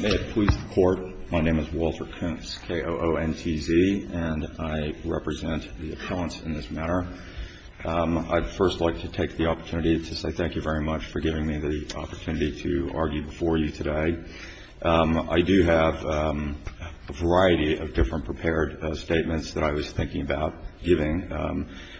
May it please the Court, my name is Walter Koontz, K-O-O-N-T-Z, and I represent the appellants in this matter. I'd first like to take the opportunity to say thank you very much for giving me the opportunity to argue before you today. I do have a variety of different prepared statements that I was thinking about giving,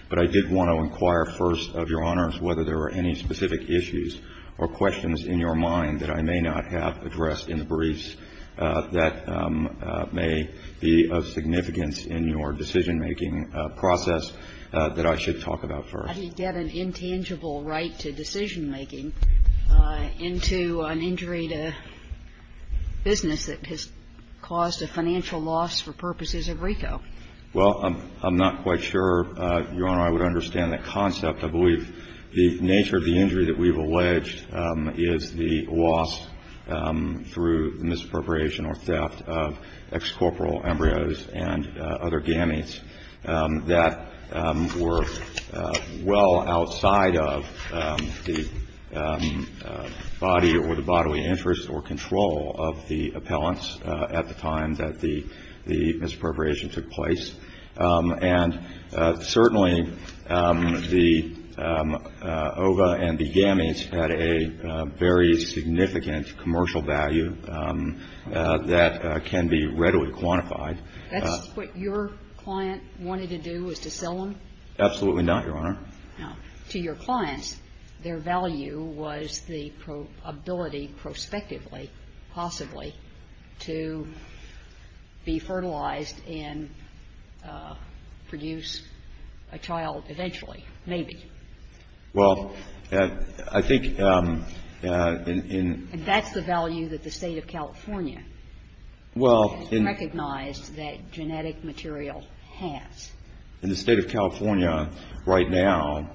but I did want to inquire first of Your Honors whether there were any specific issues or questions in your mind that I may not have addressed in the briefs that may be of significance in your decision-making process that I should talk about first. How do you get an intangible right to decision-making into an injury to business that has caused a financial loss for purposes of RICO? Well, I'm not quite sure, Your Honor, I would understand that concept. I believe the nature of the injury that we've alleged is the loss through misappropriation or theft of ex-corporal embryos and other gametes that were well outside of the body or the bodily interest or control of the appellants at the time that the misappropriation took place. And certainly the ova and the gametes had a very significant commercial value that can be readily quantified. That's what your client wanted to do, was to sell them? Absolutely not, Your Honor. To your clients, their value was the ability prospectively, possibly, to be fertilized and produce a child eventually, maybe. Well, I think in... And that's the value that the State of California has recognized that genetic material has. In the State of California right now,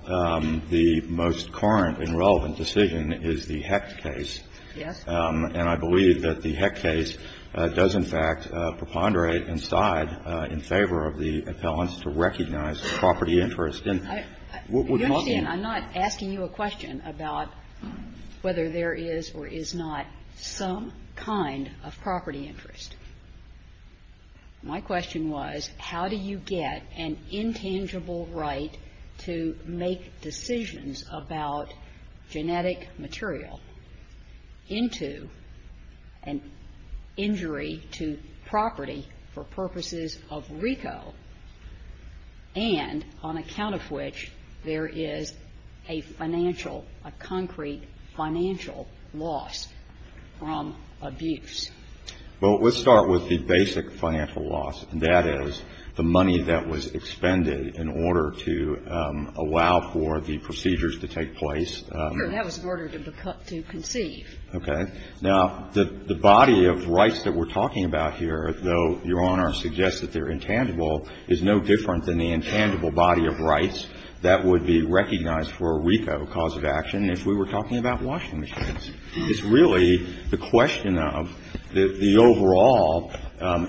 the most current and relevant decision is the Hecht case. Yes. And I believe that the Hecht case does, in fact, preponderate and side in favor of the appellants to recognize property interest. And what we're talking... You understand, I'm not asking you a question about whether there is or is not some kind of property interest. My question was, how do you get an intangible right to make decisions about genetic material into an injury to property for purposes of RICO, and on account of which there is a financial, a concrete financial loss from abuse? Well, let's start with the basic financial loss, and that is the money that was expended in order to allow for the procedures to take place. That was in order to conceive. Okay. Now, the body of rights that we're talking about here, though Your Honor suggests that they're intangible, is no different than the intangible body of rights that would be recognized for a RICO cause of action if we were talking about washing machines. It's really the question of the overall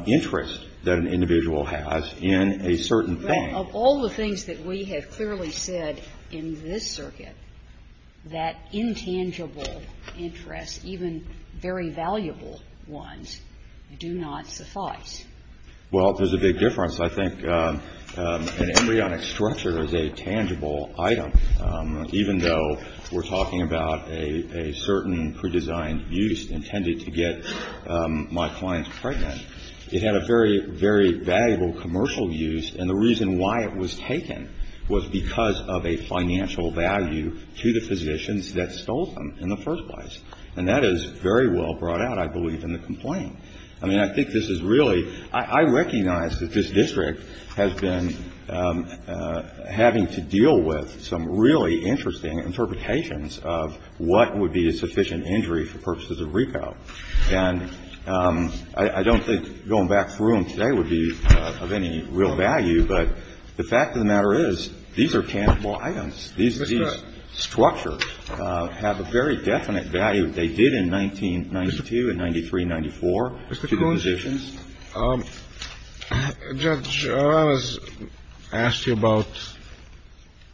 interest that an individual has in a certain thing. Of all the things that we have clearly said in this circuit, that intangible interest, even very valuable ones, do not suffice. Well, there's a big difference. I think an embryonic structure is a tangible item, even though we're talking about a certain pre-designed use intended to get my clients pregnant. It had a very, very valuable commercial use, and the reason why it was taken was because of a financial value to the physicians that stole them in the first place. And that is very well brought out, I believe, in the complaint. I mean, I think this is really ‑‑ I recognize that this district has been having to deal with some really interesting interpretations of what would be a sufficient injury for purposes of RICO. And I don't think going back through them today would be of any real value, but the fact of the matter is, these are tangible items. These structures have a very definite value. They did in 1992 and 93, 94 to the physicians. Mr. Cohen, Judge, I was asked about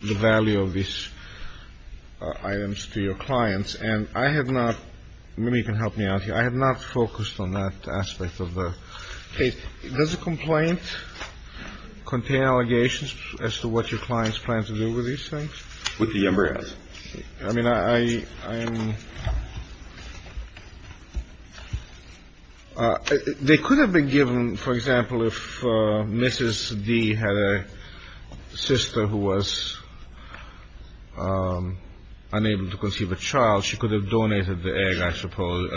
the value of these items to your clients, and I had not ‑‑ maybe you can help me out here. I had not focused on that aspect of the case. Does the complaint contain allegations as to what your clients plan to do with these things? With the embryos. I mean, I am ‑‑ they could have been given, for example, if Mrs. D. had a sister who was unable to conceive a child, she could have donated the egg, I suppose,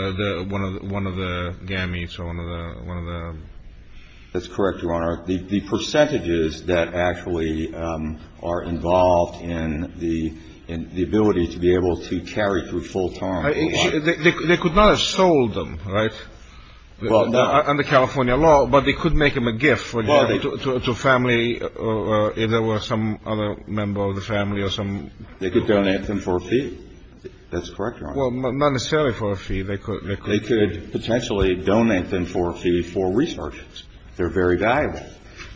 one of the gametes or one of the ‑‑ That's correct, Your Honor. The percentages that actually are involved in the ability to be able to carry through full time. They could not have sold them, right, under California law, but they could make them a gift to a family if there were some other member of the family or some ‑‑ They could donate them for a fee. That's correct, Your Honor. Well, not necessarily for a fee. They could potentially donate them for a fee for research. They're very valuable.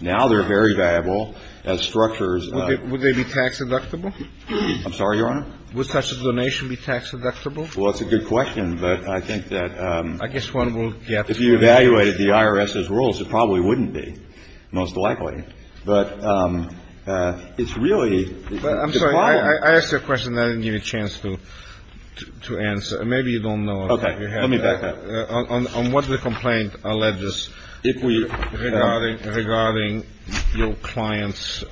Now they're very valuable as structures of ‑‑ Would they be tax deductible? I'm sorry, Your Honor? Would such a donation be tax deductible? Well, that's a good question, but I think that ‑‑ I guess one will get ‑‑ If you evaluated the IRS's rules, it probably wouldn't be, most likely. But it's really ‑‑ I'm sorry. I asked you a question that I didn't get a chance to answer. Maybe you don't know. Okay. Let me back up. On what the complaint alleges regarding your client's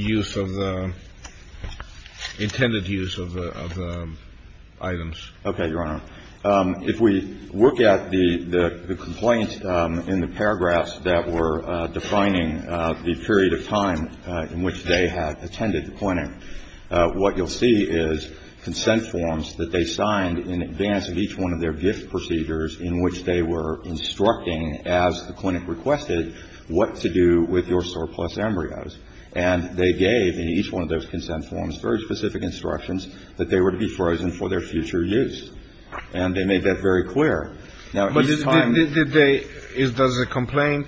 use of the ‑‑ intended use of the items. Okay, Your Honor. If we look at the complaints in the paragraphs that were defining the period of time in which they had attended the clinic, what you'll see is consent forms that they signed in advance of each one of their gift procedures in which they were instructing, as the clinic requested, what to do with your surplus embryos. And they gave, in each one of those consent forms, very specific instructions that they were to be frozen for their future use. And they made that very clear. Now, each time ‑‑ But did they ‑‑ does the complaint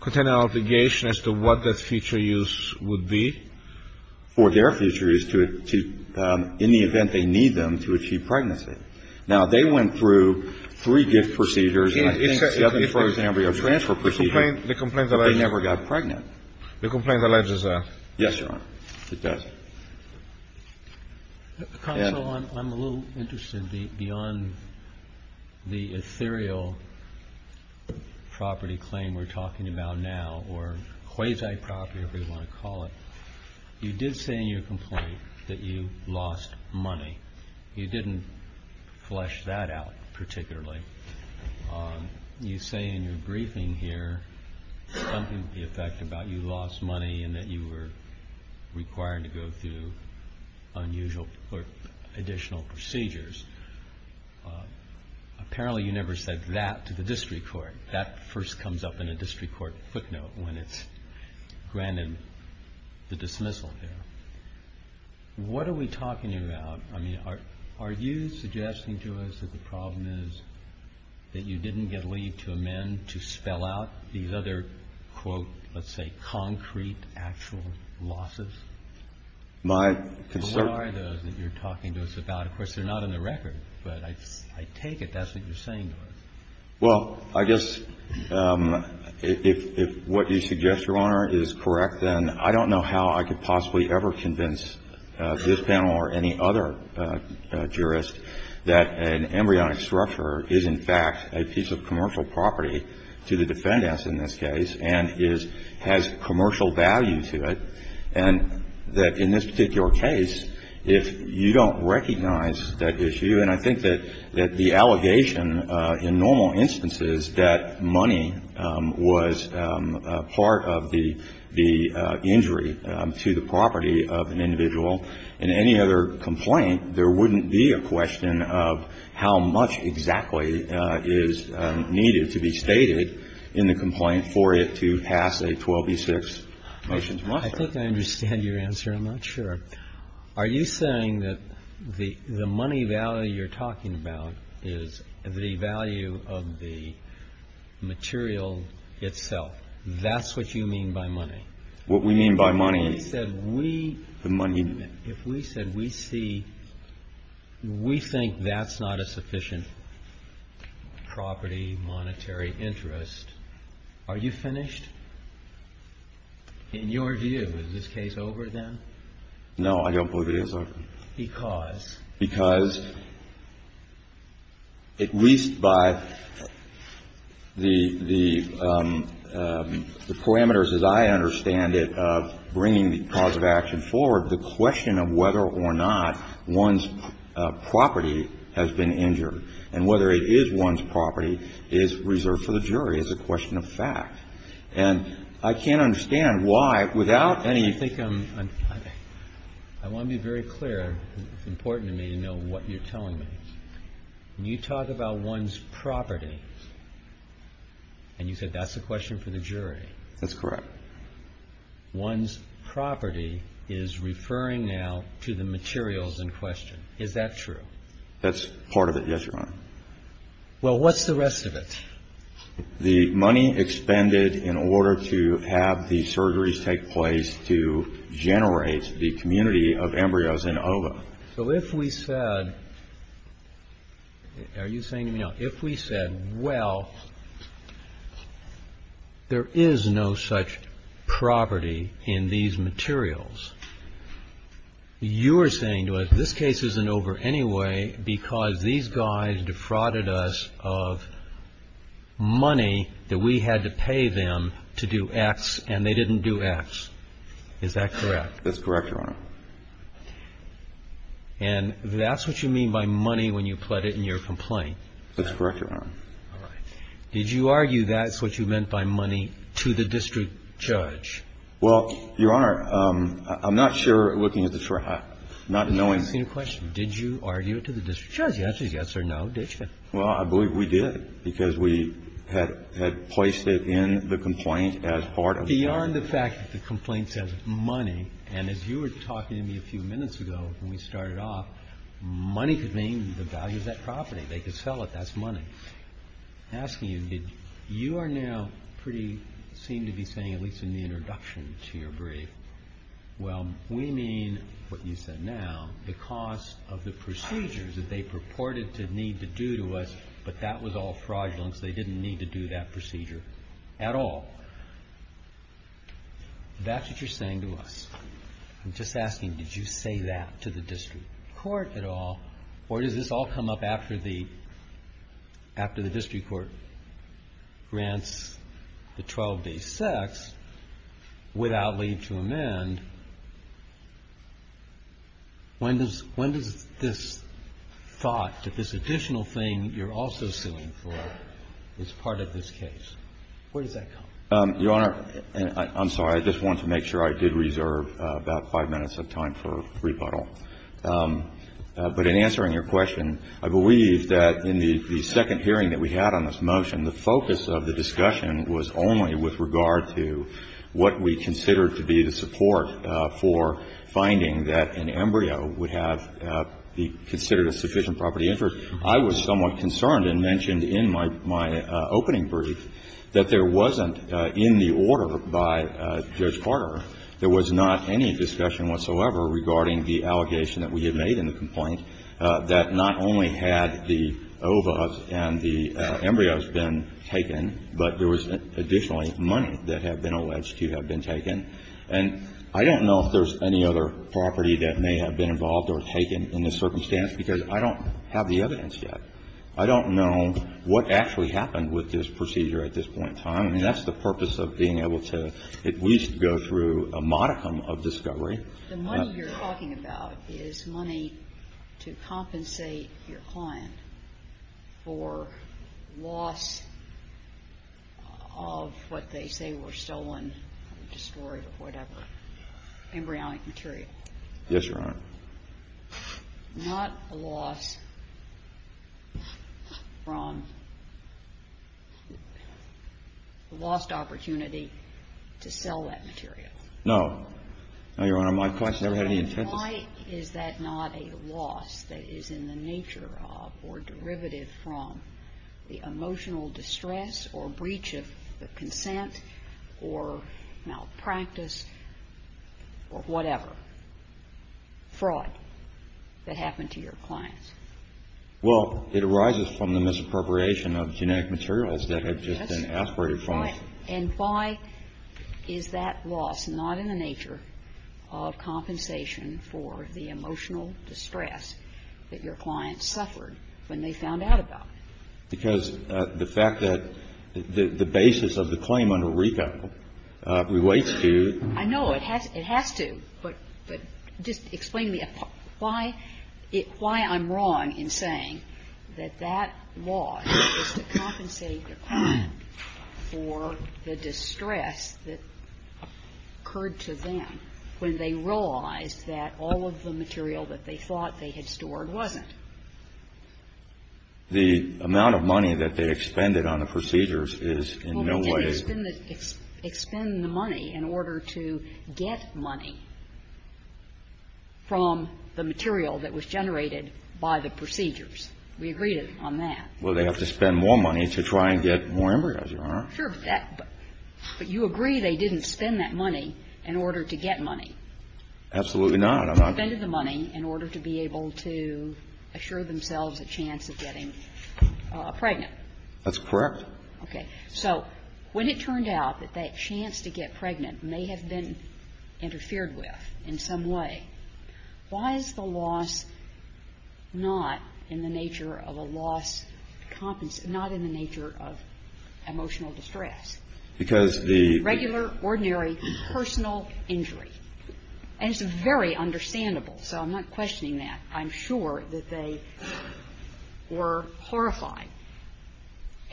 contain an obligation as to what that future use would be? For their future use to ‑‑ in the event they need them to achieve pregnancy. Now, they went through three gift procedures, and I think seven for embryo transfer procedures, but they never got pregnant. The complaint alleges that. Yes, Your Honor. It does. Counsel, I'm a little interested beyond the ethereal property claim we're talking about now, or quasi-property, if we want to call it. You did say in your complaint that you lost money. You didn't flesh that out particularly. You say in your briefing here something to the effect that you lost money and that you were required to go through unusual or additional procedures. Apparently you never said that to the district court. That first comes up in a district court footnote when it's granted the dismissal here. What are we talking about? I mean, are you suggesting to us that the problem is that you didn't get a lead to amend to spell out these other, quote, let's say, concrete actual losses? My concern ‑‑ What are those that you're talking to us about? Of course, they're not in the record, but I take it that's what you're saying to us. Well, I guess if what you suggest, Your Honor, is correct, then I don't know how I could possibly ever convince this panel or any other jurist that an embryonic structure is, in fact, a piece of commercial property to the defendants in this case and has commercial value to it, and that in this particular case, if you don't recognize that issue, and I think that the allegation in normal instances that money was part of the injury to the property of an individual, in any other complaint, there wouldn't be a question of how much exactly is needed to be stated in the complaint for it to pass a 12B6 motion to muster. I think I understand your answer. I'm not sure. Are you saying that the money value you're talking about is the value of the material itself? That's what you mean by money? What we mean by money is the money. If we said we see ‑‑ we think that's not a sufficient property, monetary interest, are you finished? In your view, is this case over, then? No, I don't believe it is over. Because? Because at least by the parameters as I understand it of bringing the cause of action forward, the question of whether or not one's property has been injured and whether it is one's property is reserved for the jury as a question of fact. And I can't understand why, without any ‑‑ I want to be very clear. It's important to me to know what you're telling me. When you talk about one's property, and you said that's a question for the jury. That's correct. One's property is referring now to the materials in question. Is that true? That's part of it, yes, Your Honor. Well, what's the rest of it? The money expended in order to have the surgeries take place to generate the community of embryos in OVA. So if we said, are you saying to me now, if we said, well, there is no such property in these materials, you are saying to us, this case isn't over anyway because these guys defrauded us of money that we had to pay them to do X, and they didn't do X. Is that correct? That's correct, Your Honor. And that's what you mean by money when you put it in your complaint? That's correct, Your Honor. All right. Did you argue that's what you meant by money to the district judge? Well, Your Honor, I'm not sure, looking at the trial, not knowing. Did you argue it to the district judge? The answer is yes or no, didn't you? Well, I believe we did, because we had placed it in the complaint as part of the case. Beyond the fact that the complaint says money, and as you were talking to me a few minutes ago when we started off, money could mean the value of that property. They could sell it. That's money. I'm asking you, you are now pretty, seem to be saying, at least in the introduction to your brief, well, we mean what you said now, the cost of the procedures that they purported to need to do to us, but that was all fraudulence. They didn't need to do that procedure at all. That's what you're saying to us. I'm just asking, did you say that to the district court at all, or does this all come up after the district court grants the 12-day sex without leave to amend? When does this thought that this additional thing you're also suing for is part of this case? Where does that come from? Your Honor, I'm sorry. I just wanted to make sure I did reserve about five minutes of time for rebuttal. But in answering your question, I believe that in the second hearing that we had on this motion, the focus of the discussion was only with regard to what we considered to be the support for finding that an embryo would have be considered a sufficient property interest. I was somewhat concerned and mentioned in my opening brief that there wasn't, in the order by Judge Carter, there was not any discussion whatsoever regarding the allegation that we had made in the complaint that not only had the ovas and the embryos been taken, but there was additionally money that had been alleged to have And I don't know if there's any other property that may have been involved or taken in this circumstance, because I don't have the evidence yet. I don't know what actually happened with this procedure at this point in time. I mean, that's the purpose of being able to at least go through a modicum of discovery. The money you're talking about is money to compensate your client for loss of what they say were stolen, destroyed, or whatever. Embryonic material. Yes, Your Honor. Not a loss from a lost opportunity to sell that material. No. No, Your Honor. My client's never had any intent to sell. Why is that not a loss that is in the nature of or derivative from the emotional distress or breach of the consent or malpractice or whatever? Fraud that happened to your clients. Well, it arises from the misappropriation of genetic materials that had just been aspirated from us. And why is that loss not in the nature of compensation for the emotional distress that your clients suffered when they found out about it? Because the fact that the basis of the claim under RICO relates to the law. I know. It has to. But just explain to me why I'm wrong in saying that that loss is to compensate your client for the distress that occurred to them when they realized that all of the material that they thought they had stored wasn't. The amount of money that they expended on the procedures is in no way. Expend the money in order to get money from the material that was generated by the procedures. We agreed on that. Well, they have to spend more money to try and get more embryos, Your Honor. Sure. But you agree they didn't spend that money in order to get money. Absolutely not. They spent the money in order to be able to assure themselves a chance of getting pregnant. That's correct. Okay. So when it turned out that that chance to get pregnant may have been interfered with in some way, why is the loss not in the nature of a loss of compensation, not in the nature of emotional distress? Because the – Regular, ordinary, personal injury. And it's very understandable. So I'm not questioning that. I'm sure that they were horrified.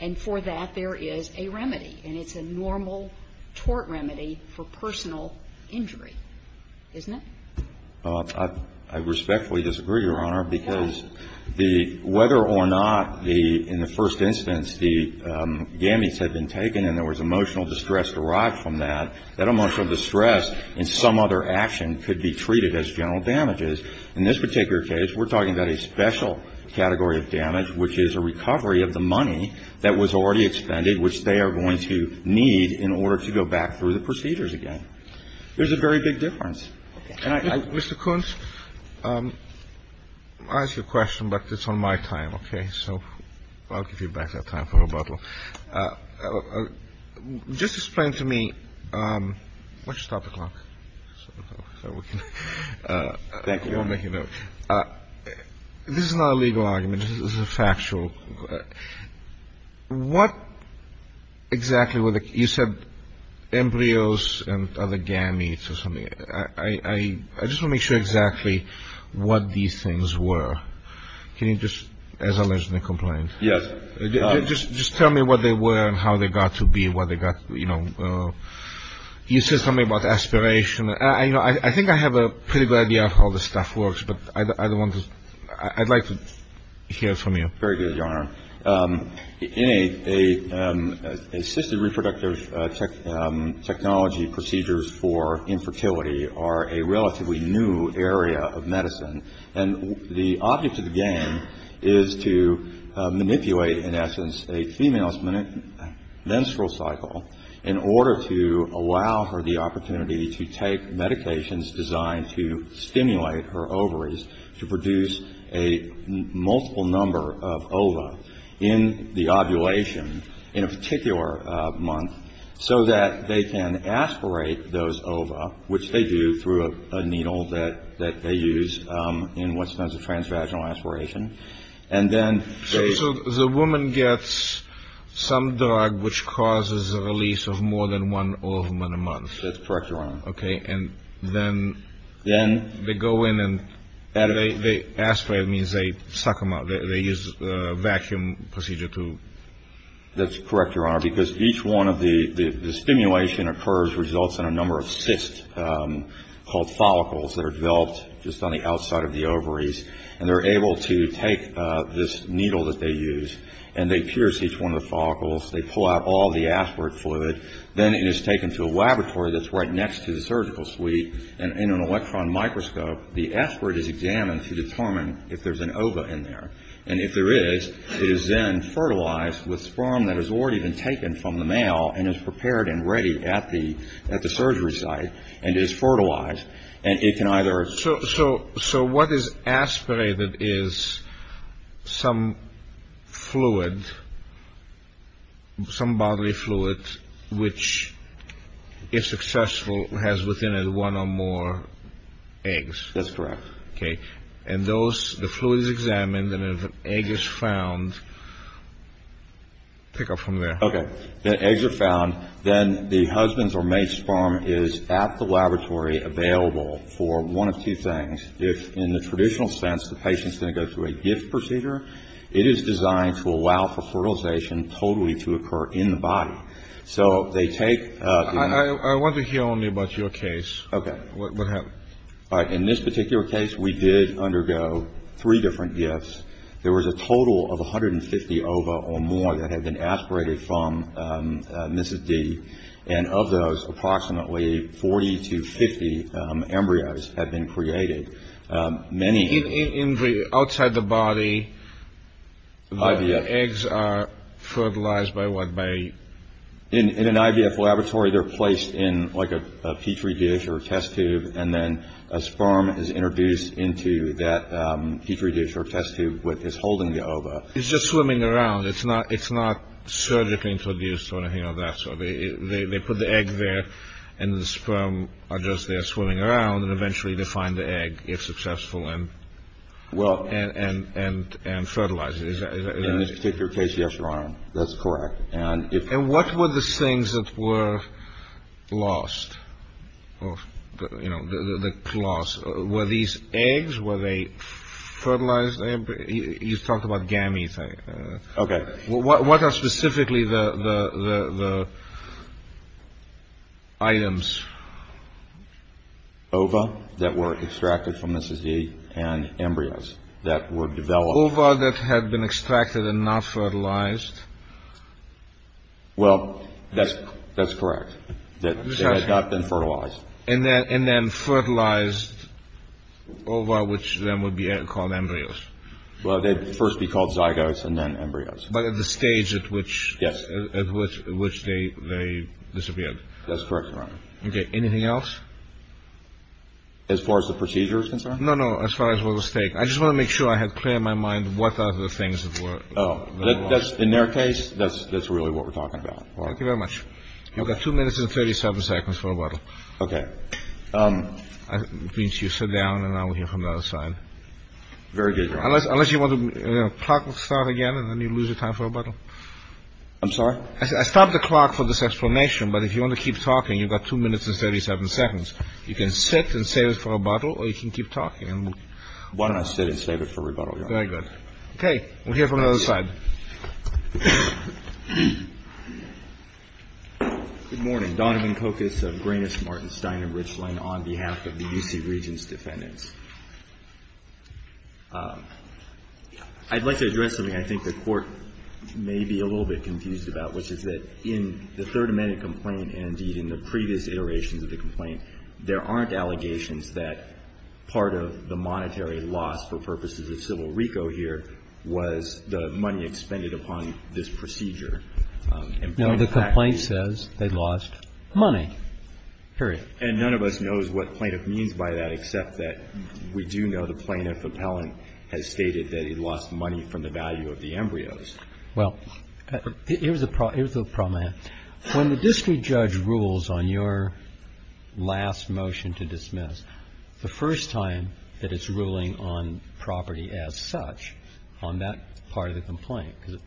And for that, there is a remedy. And it's a normal tort remedy for personal injury, isn't it? I respectfully disagree, Your Honor, because the – How? Whether or not the – in the first instance, the gametes had been taken and there was emotional distress derived from that, that emotional distress in some other action could be treated as general damages. In this particular case, we're talking about a special category of damage, which is a recovery of the money that was already expended, which they are going to need in order to go back through the procedures again. There's a very big difference. Okay. Mr. Kuntz, I ask you a question, but it's on my time, okay? So I'll give you back that time for rebuttal. Just explain to me – why don't you stop the clock? Thank you, Your Honor. This is not a legal argument. This is a factual. What exactly were the – you said embryos and other gametes or something. I just want to make sure exactly what these things were. Can you just, as a legitimate complaint – Yes. Just tell me what they were and how they got to be, what they got – you know. You said something about aspiration. I think I have a pretty good idea of how this stuff works, but I'd like to hear from you. Very good, Your Honor. Assisted reproductive technology procedures for infertility are a relatively new area of medicine, and the object of the game is to manipulate, in essence, a female's menstrual cycle in order to allow her the opportunity to take medications designed to stimulate her ovaries to produce a multiple number of ova in the ovulation in a particular month so that they can aspirate those ova, which they do through a needle that they use in what's known as a transvaginal aspiration. So the woman gets some drug which causes a release of more than one ovum in a month. That's correct, Your Honor. Okay, and then they go in and they aspirate, which means they suck them up, they use a vacuum procedure to – That's correct, Your Honor, because each one of the – the stimulation occurs, results in a number of cysts called follicles that are developed just on the outside of the ovaries, and they're able to take this needle that they use and they pierce each one of the follicles, they pull out all the aspirate fluid. Then it is taken to a laboratory that's right next to the surgical suite, and in an electron microscope, the aspirate is examined to determine if there's an ova in there. And if there is, it is then fertilized with sperm that has already been taken from the male and is prepared and ready at the surgery site and is fertilized, and it can either – So what is aspirated is some fluid, some bodily fluid, which, if successful, has within it one or more eggs. That's correct. Okay, and those – the fluid is examined, and if an egg is found – pick up from there. Okay. If eggs are found, then the husband's or mate's sperm is at the laboratory available for one of two things. If, in the traditional sense, the patient's going to go through a gift procedure, it is designed to allow for fertilization totally to occur in the body. So they take – I want to hear only about your case. Okay. What happened? All right. In this particular case, we did undergo three different gifts. There was a total of 150 ova or more that had been aspirated from Mrs. D. And of those, approximately 40 to 50 embryos had been created. Many – In the – outside the body, the eggs are fertilized by what may – In an IVF laboratory, they're placed in, like, a Petri dish or a test tube, and then a sperm is introduced into that Petri dish or test tube, which is holding the ova. It's just swimming around. It's not surgically introduced or, you know, that sort of thing. They put the egg there, and the sperm are just there swimming around and eventually they find the egg, if successful, and fertilize it. In this particular case, yes, Your Honor. That's correct. And if – The things that were lost, you know, the cloths, were these eggs? Were they fertilized? You've talked about gametes. Okay. What are specifically the items? Ova that were extracted from Mrs. D. and embryos that were developed. Ova that had been extracted and not fertilized? Well, that's correct. They had not been fertilized. And then fertilized ova, which then would be called embryos. Well, they'd first be called zygotes and then embryos. But at the stage at which – At which they disappeared. That's correct, Your Honor. Okay. Anything else? As far as the procedure is concerned? No, no. As far as what was taken. I just want to make sure I had clear in my mind what are the things that were lost. Oh, that's – in their case, that's really what we're talking about. Thank you very much. You've got two minutes and 37 seconds for rebuttal. Okay. It means you sit down and I'll hear from the other side. Very good, Your Honor. Unless you want to – the clock will start again and then you lose your time for rebuttal. I'm sorry? I stopped the clock for this explanation, but if you want to keep talking, you've got two minutes and 37 seconds. You can sit and save it for rebuttal or you can keep talking. Why don't I sit and save it for rebuttal, Your Honor? Very good. Okay. We'll hear from the other side. Good morning. Donovan Kokus of Greenish, Martin, Stein, and Richland on behalf of the U.C. Regents' defendants. I'd like to address something I think the Court may be a little bit confused about, which is that in the Third Amendment complaint and, indeed, in the previous iterations of the complaint, there aren't allegations that part of the monetary loss for purposes of civil RICO here was the money expended upon this procedure. Now, the complaint says they lost money, period. And none of us knows what plaintiff means by that, except that we do know the plaintiff appellant has stated that he lost money from the value of the embryos. Well, here's the problem. When the district judge rules on your last motion to dismiss, the first time that it's ruling on property as such on that part of the complaint because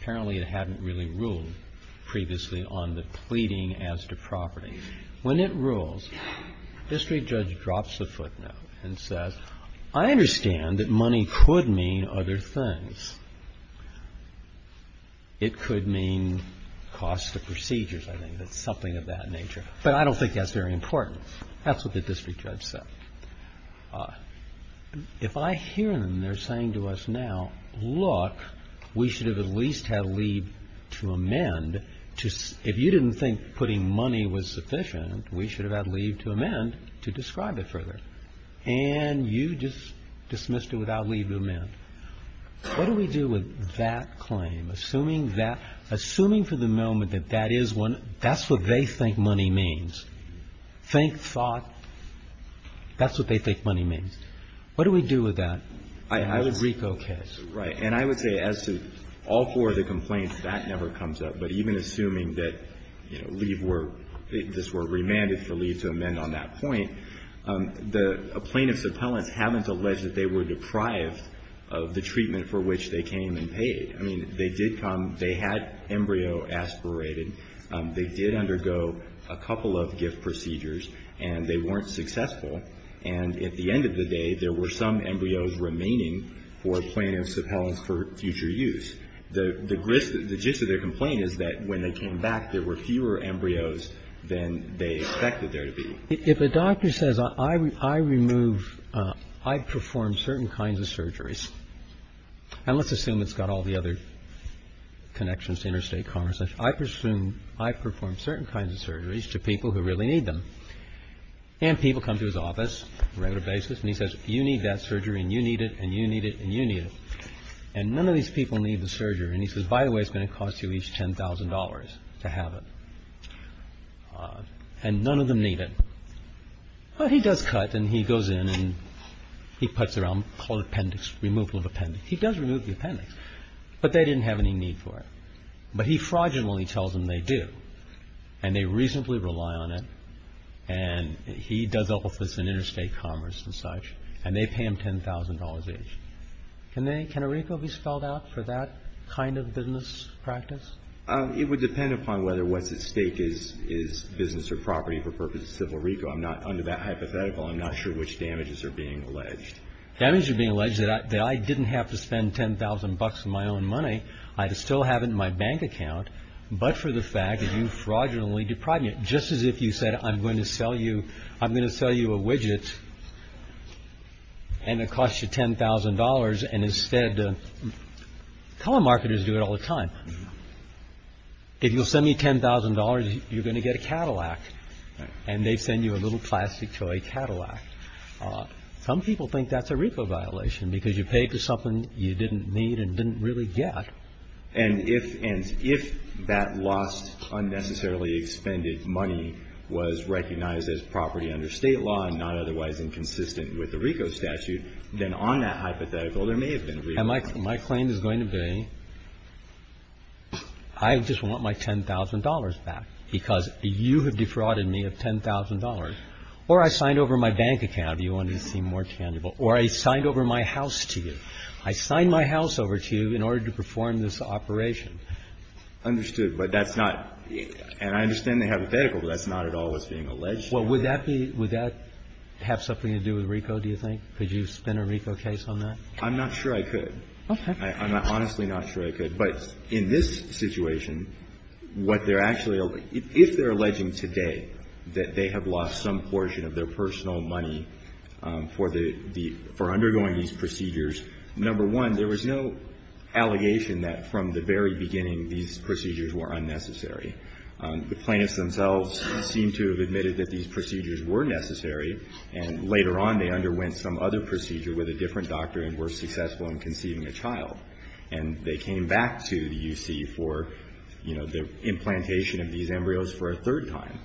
apparently it hadn't really ruled previously on the pleading as to property, when it rules, the district judge drops the footnote and says, I understand that money could mean other things. It could mean cost of procedures, I think, that's something of that nature. But I don't think that's very important. That's what the district judge said. If I hear them, they're saying to us now, look, we should have at least had leave to amend. If you didn't think putting money was sufficient, we should have had leave to amend to describe it further. And you just dismissed it without leave to amend. What do we do with that claim? Assuming that, assuming for the moment that that is one, that's what they think money means. Think thought. That's what they think money means. What do we do with that in the Rico case? Right. And I would say as to all four of the complaints, that never comes up. But even assuming that leave were, this were remanded for leave to amend on that point, the plaintiff's appellants haven't alleged that they were deprived of the treatment for which they came and paid. I mean, they did come, they had embryo aspirated. They did undergo a couple of gift procedures, and they weren't successful. And at the end of the day, there were some embryos remaining for plaintiff's appellants for future use. The gist of their complaint is that when they came back, there were fewer embryos than they expected there to be. If a doctor says, I remove, I perform certain kinds of surgeries, and let's assume it's got all the other connections to interstate commerce, I presume I perform certain kinds of surgeries to people who really need them. And people come to his office on a regular basis, and he says, you need that surgery and you need it and you need it and you need it. And none of these people need the surgery. And he says, by the way, it's going to cost you each $10,000 to have it. And none of them need it. But he does cut, and he goes in and he puts around, called appendix, removal of appendix. He does remove the appendix, but they didn't have any need for it. But he fraudulently tells them they do, and they reasonably rely on it. And he does all this in interstate commerce and such, and they pay him $10,000 each. Can a RICO be spelled out for that kind of business practice? It would depend upon whether what's at stake is business or property for purposes of a RICO. Under that hypothetical, I'm not sure which damages are being alleged. Damages are being alleged that I didn't have to spend $10,000 of my own money. I'd still have it in my bank account, but for the fact that you fraudulently deprived me. Just as if you said, I'm going to sell you a widget, and it costs you $10,000. And instead, color marketers do it all the time. If you'll send me $10,000, you're going to get a Cadillac. And they send you a little plastic toy Cadillac. Some people think that's a RICO violation because you paid for something you didn't need and didn't really get. And if that lost unnecessarily expended money was recognized as property under State law and not otherwise inconsistent with the RICO statute, then on that hypothetical, there may have been a RICO. And my claim is going to be I just want my $10,000 back because you have defrauded me of $10,000. Or I signed over my bank account if you wanted to seem more tangible. Or I signed over my house to you. I signed my house over to you in order to perform this operation. Understood. But that's not – and I understand the hypothetical, but that's not at all what's being alleged. Well, would that be – would that have something to do with RICO, do you think? Could you spin a RICO case on that? I'm not sure I could. Okay. I'm honestly not sure I could. But in this situation, what they're actually – if they're alleging today that they have lost some portion of their personal money for the – for undergoing these procedures, number one, there was no allegation that from the very beginning these procedures were unnecessary. The plaintiffs themselves seem to have admitted that these procedures were necessary, and later on they underwent some other procedure with a different doctor and were successful in conceiving a child. And they came back to the U.C. for, you know, the implantation of these embryos for a third time.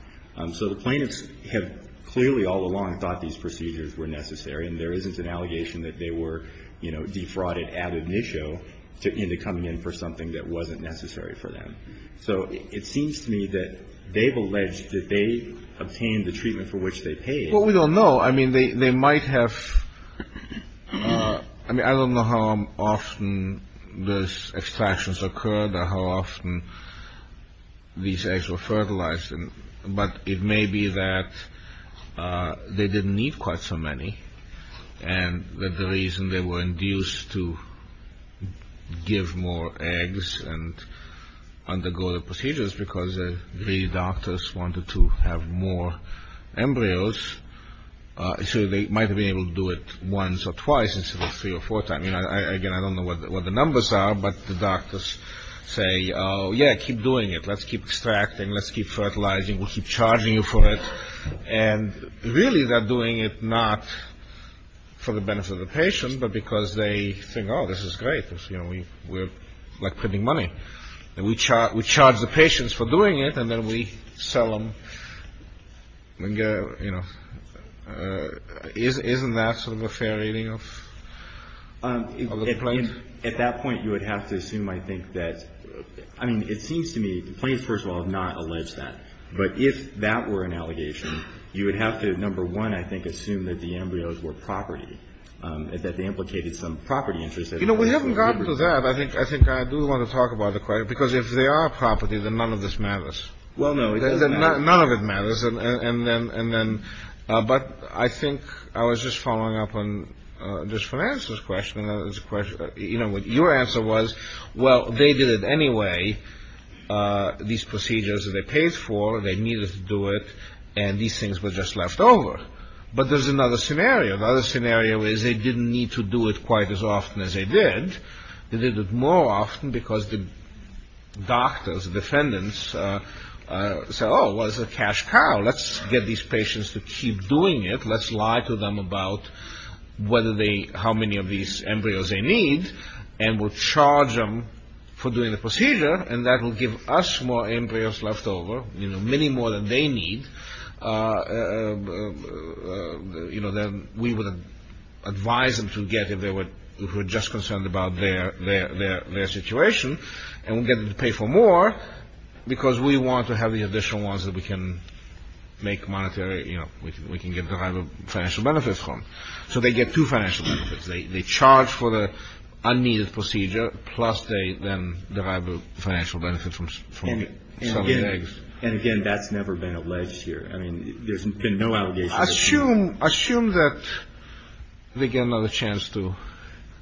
So the plaintiffs have clearly all along thought these procedures were necessary, and there isn't an allegation that they were, you know, defrauded ad initio into coming in for something that wasn't necessary for them. So it seems to me that they've alleged that they obtained the treatment for which they paid. Well, we don't know. I mean, they might have – I mean, I don't know how often those extractions occurred or how often these eggs were fertilized, but it may be that they didn't need quite so many and that the reason they were induced to give more eggs and undergo the procedures is because the doctors wanted to have more embryos. So they might have been able to do it once or twice instead of three or four times. I mean, again, I don't know what the numbers are, but the doctors say, oh, yeah, keep doing it. Let's keep extracting. Let's keep fertilizing. We'll keep charging you for it. And really they're doing it not for the benefit of the patient, but because they think, oh, this is great. You know, we're, like, printing money. And we charge the patients for doing it, and then we sell them, you know. Isn't that sort of a fair reading of the plaintiffs? At that point, you would have to assume, I think, that – I mean, it seems to me – the plaintiffs, first of all, have not alleged that. But if that were an allegation, you would have to, number one, I think, assume that the embryos were property, that they implicated some property interest. You know, we haven't gotten to that. I think I do want to talk about the question, because if they are property, then none of this matters. Well, no, it doesn't matter. None of it matters. And then – but I think I was just following up on this financer's question. You know, your answer was, well, they did it anyway, these procedures that they paid for, and they needed to do it, and these things were just left over. But there's another scenario. The other scenario is they didn't need to do it quite as often as they did. They did it more often because the doctors, the defendants, said, oh, well, it's a cash cow. Let's get these patients to keep doing it. Let's lie to them about whether they – how many of these embryos they need, and we'll charge them for doing the procedure, and that will give us more embryos left over, you know, many more than they need, you know, than we would advise them to get if they were just concerned about their situation, and we'll get them to pay for more because we want to have the additional ones that we can make monetary – you know, we can get the financial benefits from. So they get two financial benefits. They charge for the unneeded procedure, plus they then derive the financial benefit from selling eggs. And, again, that's never been alleged here. I mean, there's been no allegations. Assume that they get another chance to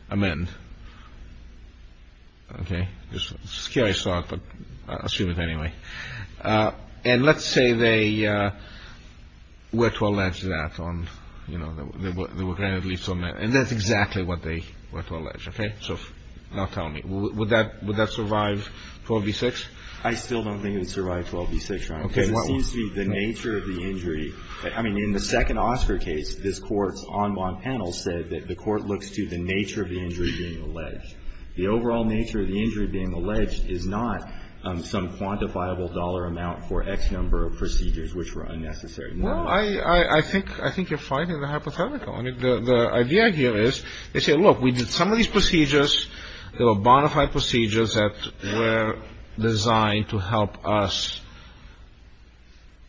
amend, okay? It's a scary thought, but assume it anyway. And let's say they were to allege that on, you know, they were granted lethal – and that's exactly what they were to allege, okay? So now tell me, would that survive 12 v. 6? I still don't think it would survive 12 v. 6. Because it seems to me the nature of the injury – I mean, in the second Oscar case, this Court's en banc panel said that the Court looks to the nature of the injury being alleged. The overall nature of the injury being alleged is not some quantifiable dollar amount for X number of procedures which were unnecessary. Well, I think you're fighting the hypothetical. I mean, the idea here is they say, look, we did some of these procedures. They were bona fide procedures that were designed to help us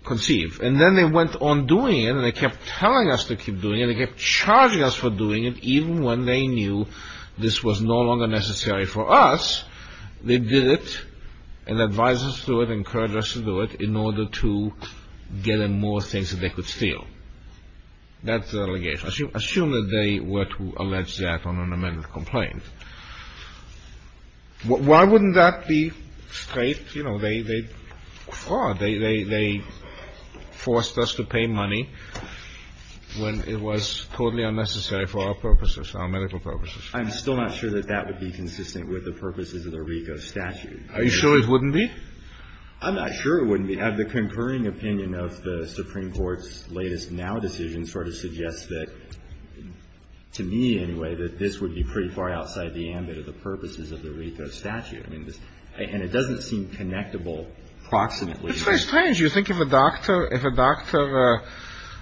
conceive. And then they went on doing it, and they kept telling us to keep doing it, and they kept charging us for doing it even when they knew this was no longer necessary for us. They did it and advised us to do it and encouraged us to do it in order to get in more things that they could steal. That's the allegation. Assume that they were to allege that on an amended complaint. Why wouldn't that be straight? You know, they – they forced us to pay money when it was totally unnecessary for our purposes, our medical purposes. I'm still not sure that that would be consistent with the purposes of the RICO statute. Are you sure it wouldn't be? I'm not sure it wouldn't be. I mean, the concurring opinion of the Supreme Court's latest now decision sort of suggests that, to me anyway, that this would be pretty far outside the ambit of the purposes of the RICO statute. I mean, this – and it doesn't seem connectable proximately. It's very strange. You think if a doctor – if a doctor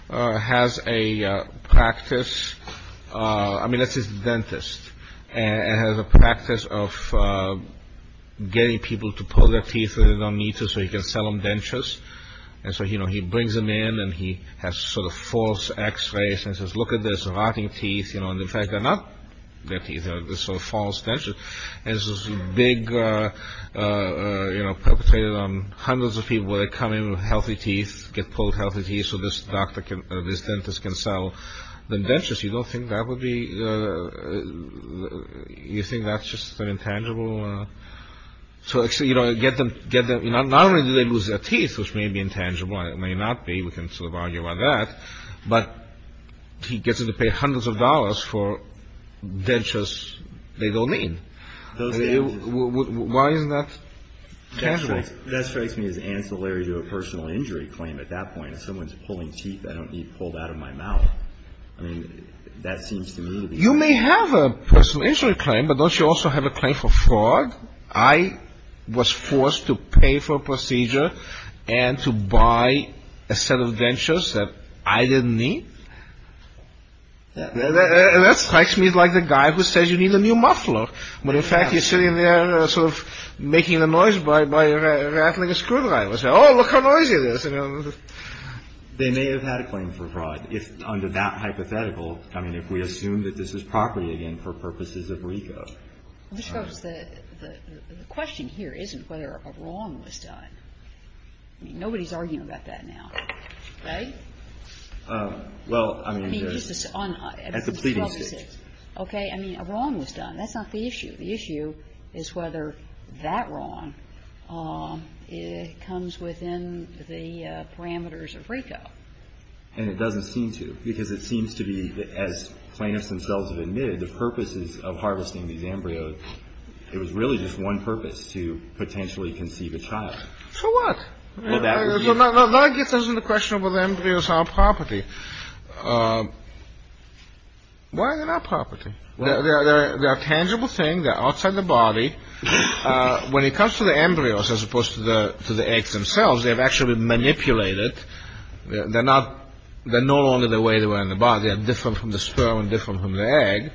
has a practice – I mean, let's say it's a dentist and has a practice of getting people to pull their teeth when they don't need to so he can sell them dentures. And so, you know, he brings them in and he has sort of false x-rays and says, look at this, rotting teeth, you know, and in fact they're not their teeth. They're sort of false dentures. And this is big, you know, perpetrated on hundreds of people where they come in with healthy teeth, get pulled healthy teeth so this doctor can – this dentist can sell them dentures. You don't think that would be – you think that's just an intangible – so, you know, get them – not only do they lose their teeth, which may be intangible, it may not be. We can sort of argue about that. But he gets them to pay hundreds of dollars for dentures they don't need. Why isn't that tangible? That strikes me as ancillary to a personal injury claim at that point. If someone's pulling teeth I don't need pulled out of my mouth. I mean, that seems to me – You may have a personal injury claim, but don't you also have a claim for fraud? I was forced to pay for a procedure and to buy a set of dentures that I didn't need. That strikes me like the guy who says you need a new muffler, when in fact you're sitting there sort of making the noise by rattling a screwdriver. Oh, look how noisy it is. They may have had a claim for fraud under that hypothetical. I mean, if we assume that this is property, again, for purposes of RICO. I suppose the question here isn't whether a wrong was done. I mean, nobody's arguing about that now, right? Well, I mean, there's – At the pleading stage. Okay. I mean, a wrong was done. That's not the issue. The issue is whether that wrong comes within the parameters of RICO. And it doesn't seem to, because it seems to be, as plaintiffs themselves have admitted, the purposes of harvesting these embryos, it was really just one purpose, to potentially conceive a child. So what? Well, that would be – No, I guess this is the question about embryos are property. Why are they not property? They're a tangible thing. They're outside the body. When it comes to the embryos as opposed to the eggs themselves, they've actually been manipulated. They're not only the way they were in the body. They're different from the sperm and different from the egg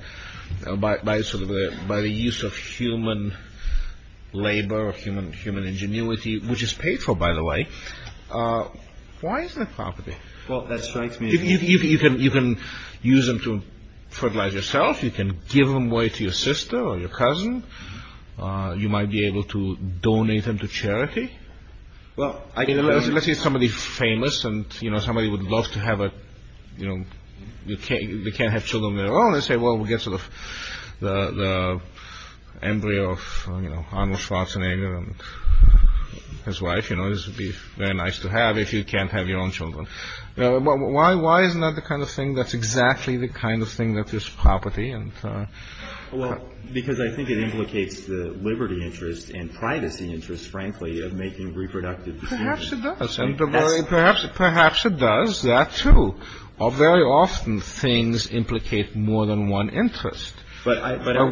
by the use of human labor or human ingenuity, which is paid for, by the way. Well, that strikes me as – You can use them to fertilize yourself. You can give them away to your sister or your cousin. You might be able to donate them to charity. Let's say somebody's famous and somebody would love to have a – they can't have children of their own. They say, well, we'll get sort of the embryo of Arnold Schwarzenegger and his wife. This would be very nice to have if you can't have your own children. Why isn't that the kind of thing that's exactly the kind of thing that is property? Well, because I think it implicates the liberty interest and privacy interest, frankly, of making reproductive decisions. Perhaps it does. Perhaps it does, that too. Very often things implicate more than one interest. Why are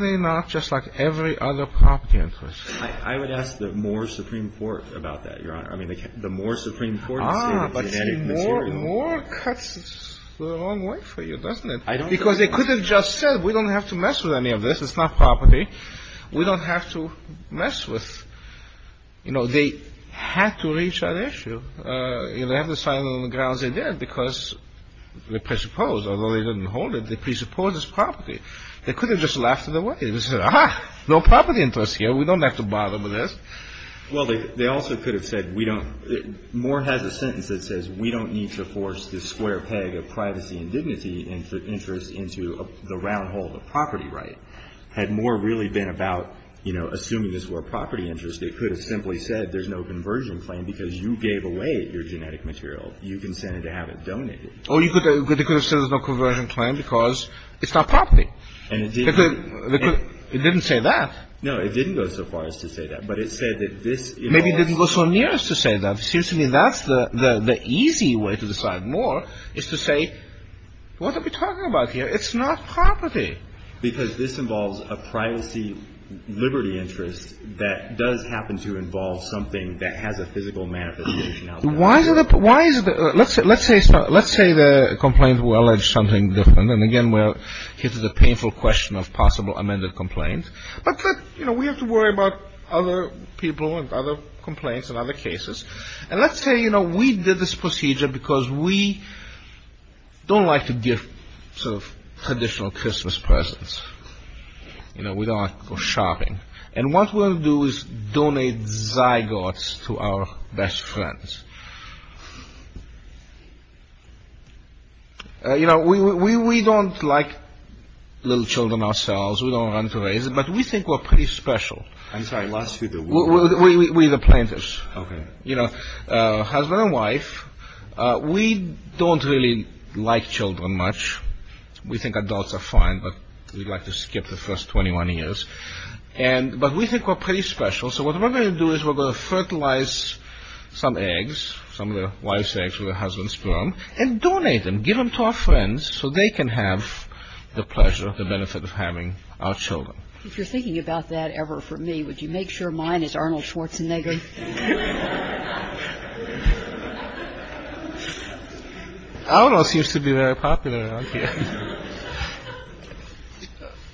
they not just like every other property interest? I would ask the Moore Supreme Court about that, Your Honor. I mean, the Moore Supreme Court – Ah, but see, Moore cuts the wrong way for you, doesn't it? Because they could have just said, we don't have to mess with any of this. It's not property. We don't have to mess with – You know, they had to reach that issue. They had to settle on the grounds they did because they presupposed, although they didn't hold it, they presupposed it's property. They could have just laughed it away and said, ah-ha, no property interest here. We don't have to bother with this. Well, they also could have said, we don't – Moore has a sentence that says we don't need to force this square peg of privacy and dignity and interest into the round hole of a property right. Had Moore really been about, you know, assuming this were a property interest, they could have simply said there's no conversion claim because you gave away your genetic material. You consented to have it donated. Or they could have said there's no conversion claim because it's not property. It didn't say that. No, it didn't go so far as to say that. But it said that this – Maybe it didn't go so near as to say that. It seems to me that's the easy way to decide. Moore is to say, what are we talking about here? It's not property. Because this involves a privacy liberty interest that does happen to involve something that has a physical manifestation out there. Why is it – let's say the complaint will allege something different. And again, here's the painful question of possible amended complaints. But, you know, we have to worry about other people and other complaints and other cases. And let's say, you know, we did this procedure because we don't like to give sort of traditional Christmas presents. You know, we don't like to go shopping. And what we'll do is donate zygotes to our best friends. You know, we don't like little children ourselves. We don't want to raise them. But we think we're pretty special. I'm sorry. Last few people. We're the plaintiffs. Okay. You know, husband and wife, we don't really like children much. We think adults are fine, but we like to skip the first 21 years. But we think we're pretty special. So what we're going to do is we're going to fertilize some eggs, some of the wife's eggs with her husband's sperm, and donate them, give them to our friends so they can have the pleasure, the benefit of having our children. If you're thinking about that ever for me, would you make sure mine is Arnold Schwarzenegger? Arnold seems to be very popular around here.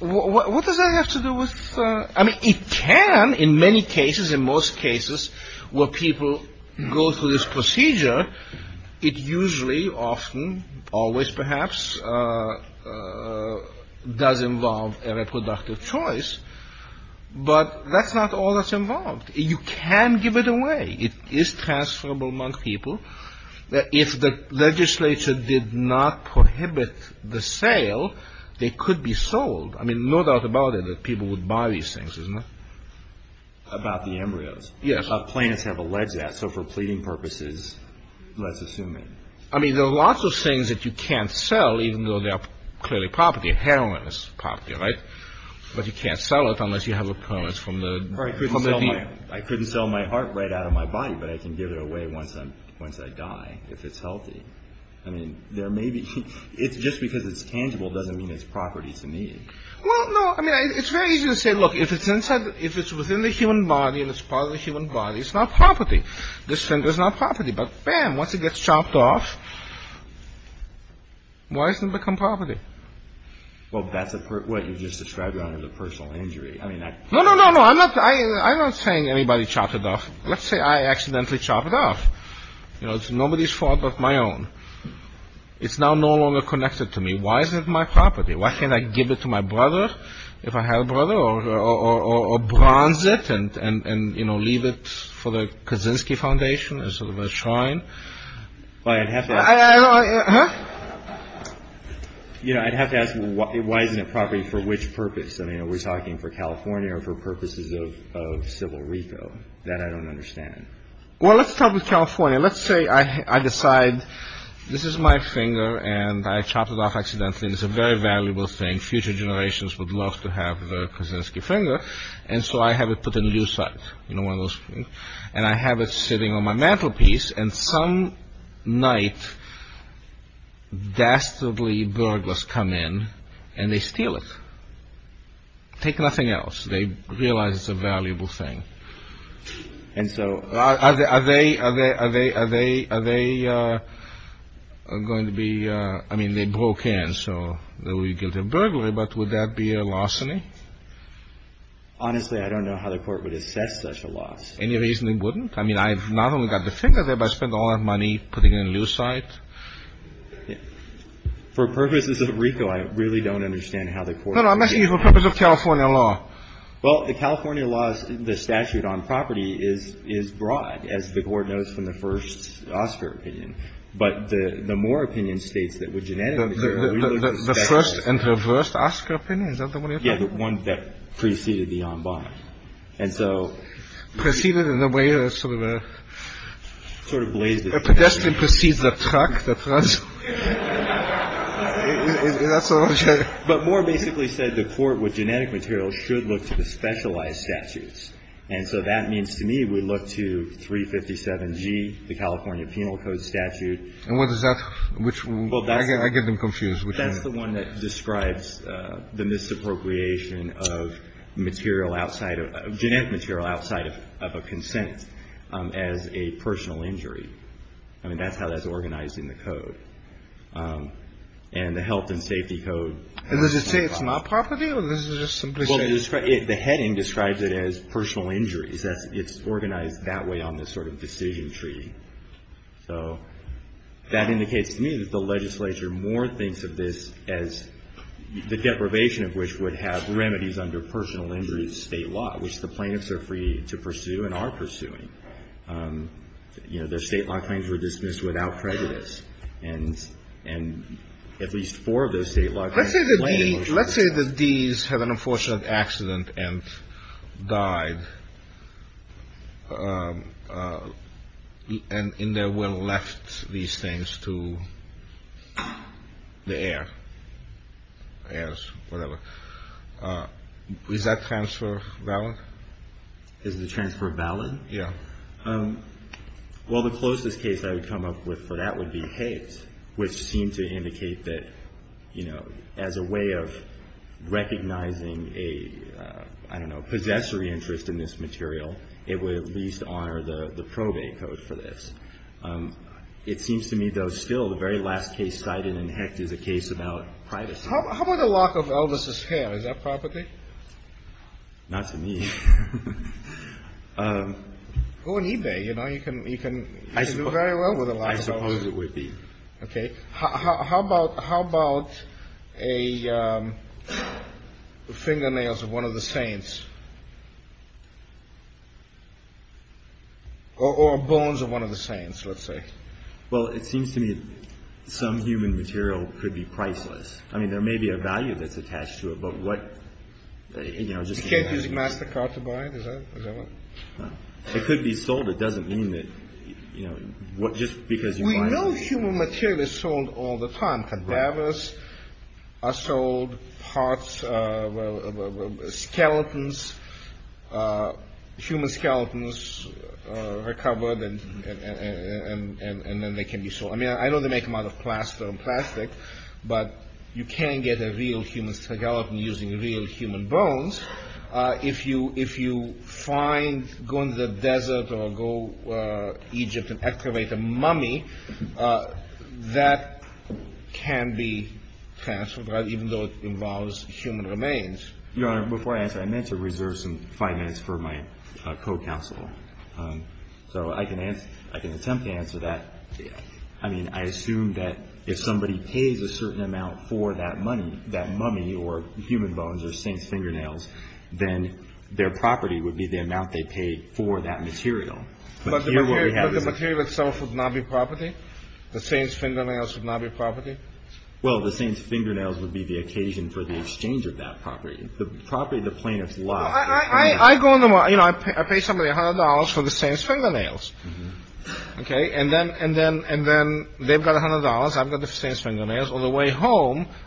What does that have to do with ‑‑ I mean, it can in many cases, in most cases, where people go through this procedure. It usually, often, always perhaps does involve a reproductive choice. But that's not all that's involved. You can give it away. It is transferable among people. If the legislature did not prohibit the sale, they could be sold. I mean, no doubt about it that people would buy these things, isn't it? About the embryos. Yes. Plaintiffs have alleged that. So for pleading purposes, let's assume that. I mean, there are lots of things that you can't sell, even though they are clearly property, heroin is property, right? But you can't sell it unless you have a permit from the ‑‑ I couldn't sell my heart right out of my body, but I can give it away once I die, if it's healthy. I mean, there may be ‑‑ just because it's tangible doesn't mean it's property to me. Well, no, I mean, it's very easy to say, look, if it's within the human body and it's part of the human body, it's not property. This thing is not property. But bam, once it gets chopped off, why does it become property? Well, that's what you just described, Your Honor, the personal injury. No, no, no, no. I'm not saying anybody chopped it off. Let's say I accidentally chopped it off. You know, nobody's fault but my own. It's now no longer connected to me. Why is it my property? Why can't I give it to my brother, if I have a brother, or bronze it and, you know, leave it for the Kaczynski Foundation as sort of a shrine? Well, I'd have to ask ‑‑ Huh? You know, I'd have to ask why isn't it property for which purpose? I mean, are we talking for California or for purposes of civil repo? That I don't understand. Well, let's start with California. Let's say I decide this is my finger and I chopped it off accidentally. It's a very valuable thing. Future generations would love to have the Kaczynski finger. And so I have it put in a new site, you know, one of those things. And I have it sitting on my mantelpiece. And some night, dastardly burglars come in and they steal it. Take nothing else. They realize it's a valuable thing. And so ‑‑ Are they going to be ‑‑ I mean, they broke in, so they will be guilty of burglary. But would that be a larceny? Honestly, I don't know how the court would assess such a loss. Any reason it wouldn't? I mean, I've not only got the finger there, but I spent all that money putting it in a new site. For purposes of repo, I really don't understand how the court would ‑‑ No, no. I'm asking you for purposes of California law. Well, the California law, the statute on property is broad, as the Court knows from the first Oscar opinion. But the Moore opinion states that with genetic ‑‑ The first and reversed Oscar opinion? Is that the one you're talking about? Yeah, the one that preceded the en bas. And so ‑‑ Preceded in a way that sort of a ‑‑ Sort of blazed it. A pedestrian precedes a truck that runs. But Moore basically said the court with genetic materials should look to the specialized statutes. And so that means to me we look to 357G, the California Penal Code statute. And what is that? Which one? I get them confused. That's the one that describes the misappropriation of material outside of ‑‑ genetic material outside of a consent as a personal injury. I mean, that's how that's organized in the code. And the health and safety code ‑‑ And does it say it's my property? Or is it just simply ‑‑ Well, the heading describes it as personal injuries. It's organized that way on this sort of decision tree. So that indicates to me that the legislature more thinks of this as the deprivation of which would have remedies under personal injury state law, which the plaintiffs are free to pursue and are pursuing. You know, their state law claims were dismissed without prejudice. And at least four of those state law claims ‑‑ Let's say that these have an unfortunate accident and died and in their will left these things to the heir, heirs, whatever. Is that transfer valid? Is the transfer valid? Yeah. Well, the closest case I would come up with for that would be Hecht, which seemed to indicate that, you know, as a way of recognizing a, I don't know, possessory interest in this material, it would at least honor the probate code for this. It seems to me, though, still the very last case cited in Hecht is a case about privacy. How about the lock of Elvis' hair? Is that property? Not to me. Go on eBay, you know. You can do very well with a lock of Elvis. I suppose it would be. Okay. How about a fingernails of one of the saints? Or bones of one of the saints, let's say. Well, it seems to me some human material could be priceless. I mean, there may be a value that's attached to it, but what, you know, just ‑‑ It could be sold. It doesn't mean that, you know, just because you want it. We know human material is sold all the time. Cadavers are sold, parts, skeletons, human skeletons are covered and then they can be sold. I mean, I know they make them out of plaster and plastic, but you can get a real human skeleton using real human bones. If you find, go into the desert or go to Egypt and excavate a mummy, that can be transferred, even though it involves human remains. Your Honor, before I answer, I meant to reserve some five minutes for my co‑counsel. So I can attempt to answer that. I mean, I assume that if somebody pays a certain amount for that mummy or human bones or saint's fingernails, then their property would be the amount they paid for that material. But here what we have is ‑‑ But the material itself would not be property? The saint's fingernails would not be property? Well, the saint's fingernails would be the occasion for the exchange of that property. The property of the plaintiff's lot. I go in the morning. You know, I pay somebody $100 for the saint's fingernails. Okay. And then they've got $100. I've got the saint's fingernails.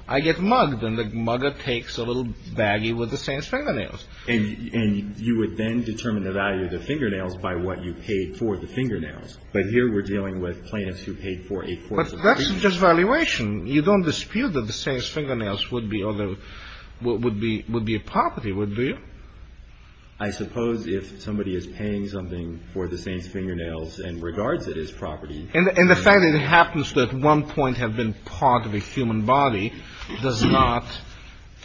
I get mugged, and the mugger takes a little baggie with the saint's fingernails. And you would then determine the value of the fingernails by what you paid for the fingernails. But here we're dealing with plaintiffs who paid for a quarter of a fingernail. But that's just valuation. You don't dispute that the saint's fingernails would be a property, do you? I suppose if somebody is paying something for the saint's fingernails and regards it as property. And the fact that it happens to at one point have been part of a human body does not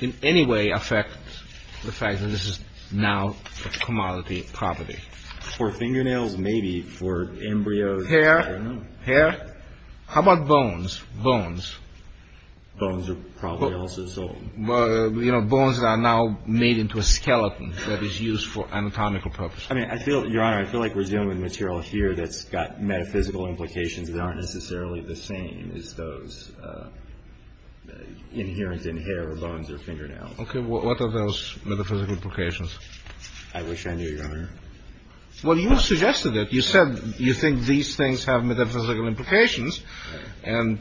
in any way affect the fact that this is now a commodity property. For fingernails, maybe. For embryos, I don't know. Hair. How about bones? Bones. Bones are probably also sold. You know, bones are now made into a skeleton that is used for anatomical purposes. I mean, I feel, Your Honor, I feel like we're dealing with material here that's got metaphysical implications that aren't necessarily the same as those inherent in hair or bones or fingernails. Okay. What are those metaphysical implications? I wish I knew, Your Honor. Well, you suggested it. You said you think these things have metaphysical implications. And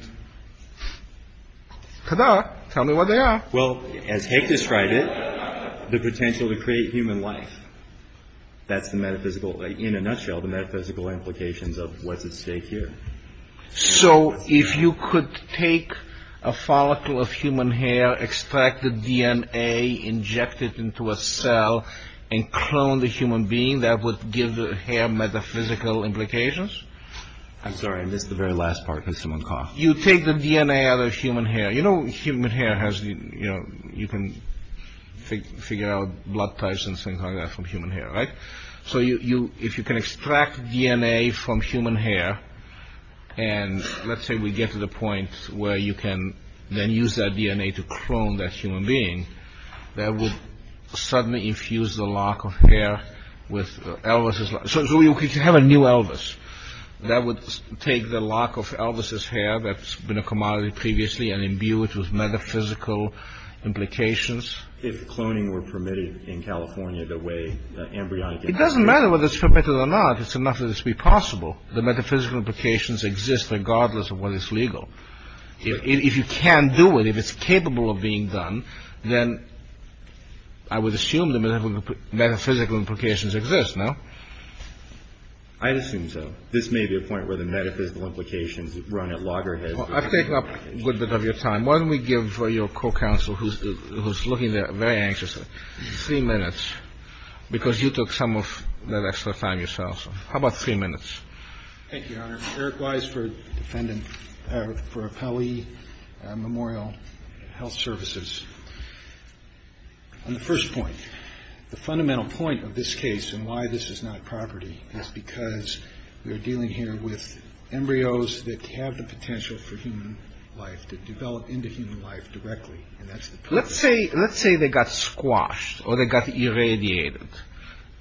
ta-da. Tell me what they are. Well, as Haig described it, the potential to create human life. That's the metaphysical, in a nutshell, the metaphysical implications of what's at stake here. So if you could take a follicle of human hair, extract the DNA, inject it into a cell, and clone the human being, that would give the hair metaphysical implications? I'm sorry. I missed the very last part because someone coughed. You take the DNA out of human hair. You know human hair has, you know, you can figure out blood types and things like that from human hair, right? So if you can extract DNA from human hair, and let's say we get to the point where you can then use that DNA to clone that human being, that would suddenly infuse the lock of hair with Elvis's lock. So you could have a new Elvis. That would take the lock of Elvis's hair that's been a commodity previously and imbue it with metaphysical implications. If cloning were permitted in California the way embryonic implants are permitted. It doesn't matter whether it's permitted or not. It's enough that it should be possible. The metaphysical implications exist regardless of what is legal. If you can do it, if it's capable of being done, then I would assume the metaphysical implications exist, no? I'd assume so. This may be a point where the metaphysical implications run at loggerheads. I've taken up a good bit of your time. Why don't we give your co-counsel, who's looking there very anxiously, three minutes, because you took some of that extra time yourself. How about three minutes? Thank you, Your Honor. Eric Wise for defendant, for Appellee Memorial Health Services. On the first point, the fundamental point of this case and why this is not property is because we are dealing here with embryos that have the potential for human life, that develop into human life directly, and that's the point. Let's say they got squashed or they got irradiated.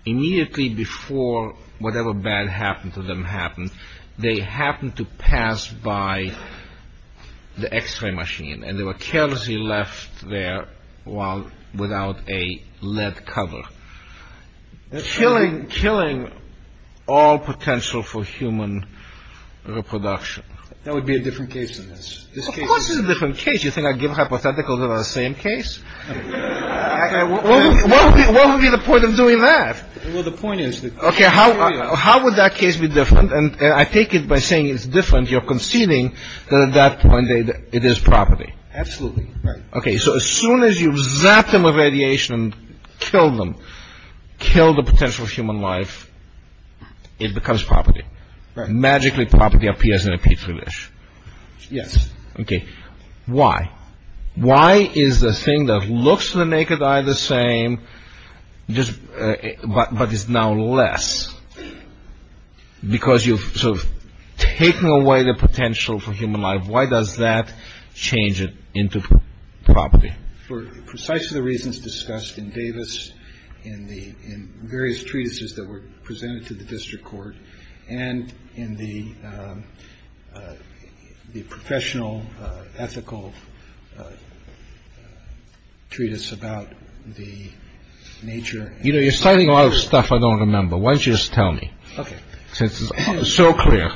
Immediately before whatever bad happened to them happened, they happened to pass by the x-ray machine and they were carelessly left there without a lead cover, killing all potential for human reproduction. That would be a different case than this. Of course it's a different case. You think I'd give hypotheticals that are the same case? What would be the point of doing that? Well, the point is that... Okay. How would that case be different? I take it by saying it's different. You're conceding that at that point it is property. Absolutely. Right. Okay. So as soon as you zap them with radiation and kill them, kill the potential for human life, it becomes property. Right. Magically, property appears in a petri dish. Yes. Okay. Why? Why is the thing that looks to the naked eye the same, but is now less? Because you've sort of taken away the potential for human life. Why does that change it into property? For precisely the reasons discussed in Davis, in the various treatises that were presented to the district court, and in the professional ethical treatise about the nature... You know, you're citing a lot of stuff I don't remember. Why don't you just tell me? Okay. Because it's so clear.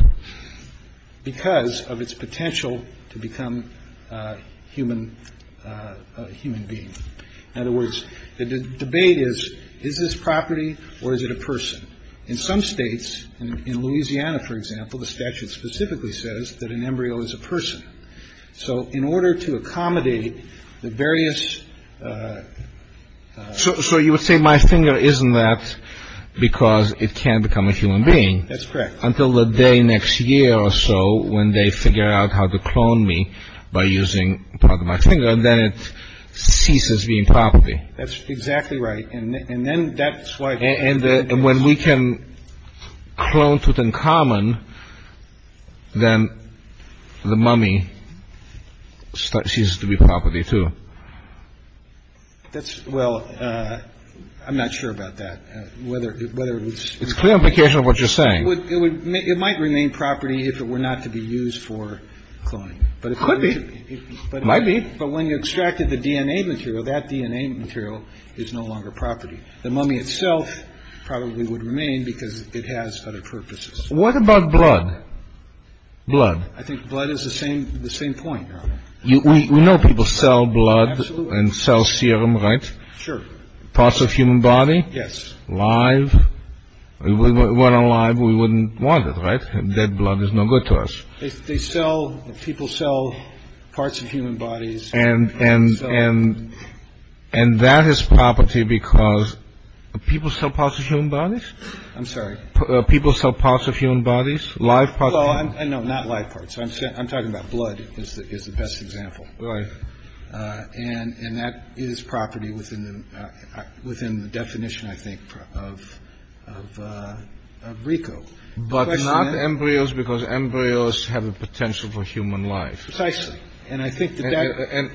Because of its potential to become a human being. In other words, the debate is, is this property or is it a person? In some states, in Louisiana, for example, the statute specifically says that an embryo is a person. So in order to accommodate the various... So you would say my finger isn't that because it can't become a human being. That's correct. Until the day next year or so when they figure out how to clone me by using part of my finger, then it ceases being property. That's exactly right. And then that's why... And when we can clone to the common, then the mummy ceases to be property, too. That's... Well, I'm not sure about that, whether it's... It's a clear implication of what you're saying. It might remain property if it were not to be used for cloning. It could be. It might be. But when you extracted the DNA material, that DNA material is no longer property. The mummy itself probably would remain because it has other purposes. What about blood? Blood. I think blood is the same point. We know people sell blood and sell serum, right? Sure. Parts of human body? Yes. Live? If it weren't alive, we wouldn't want it, right? Dead blood is no good to us. They sell... People sell parts of human bodies. And that is property because people sell parts of human bodies? I'm sorry. People sell parts of human bodies? Live parts? No, not live parts. I'm talking about blood is the best example. Right. And that is property within the definition, I think, of RICO. But not embryos because embryos have a potential for human life. Precisely. And I think that that... And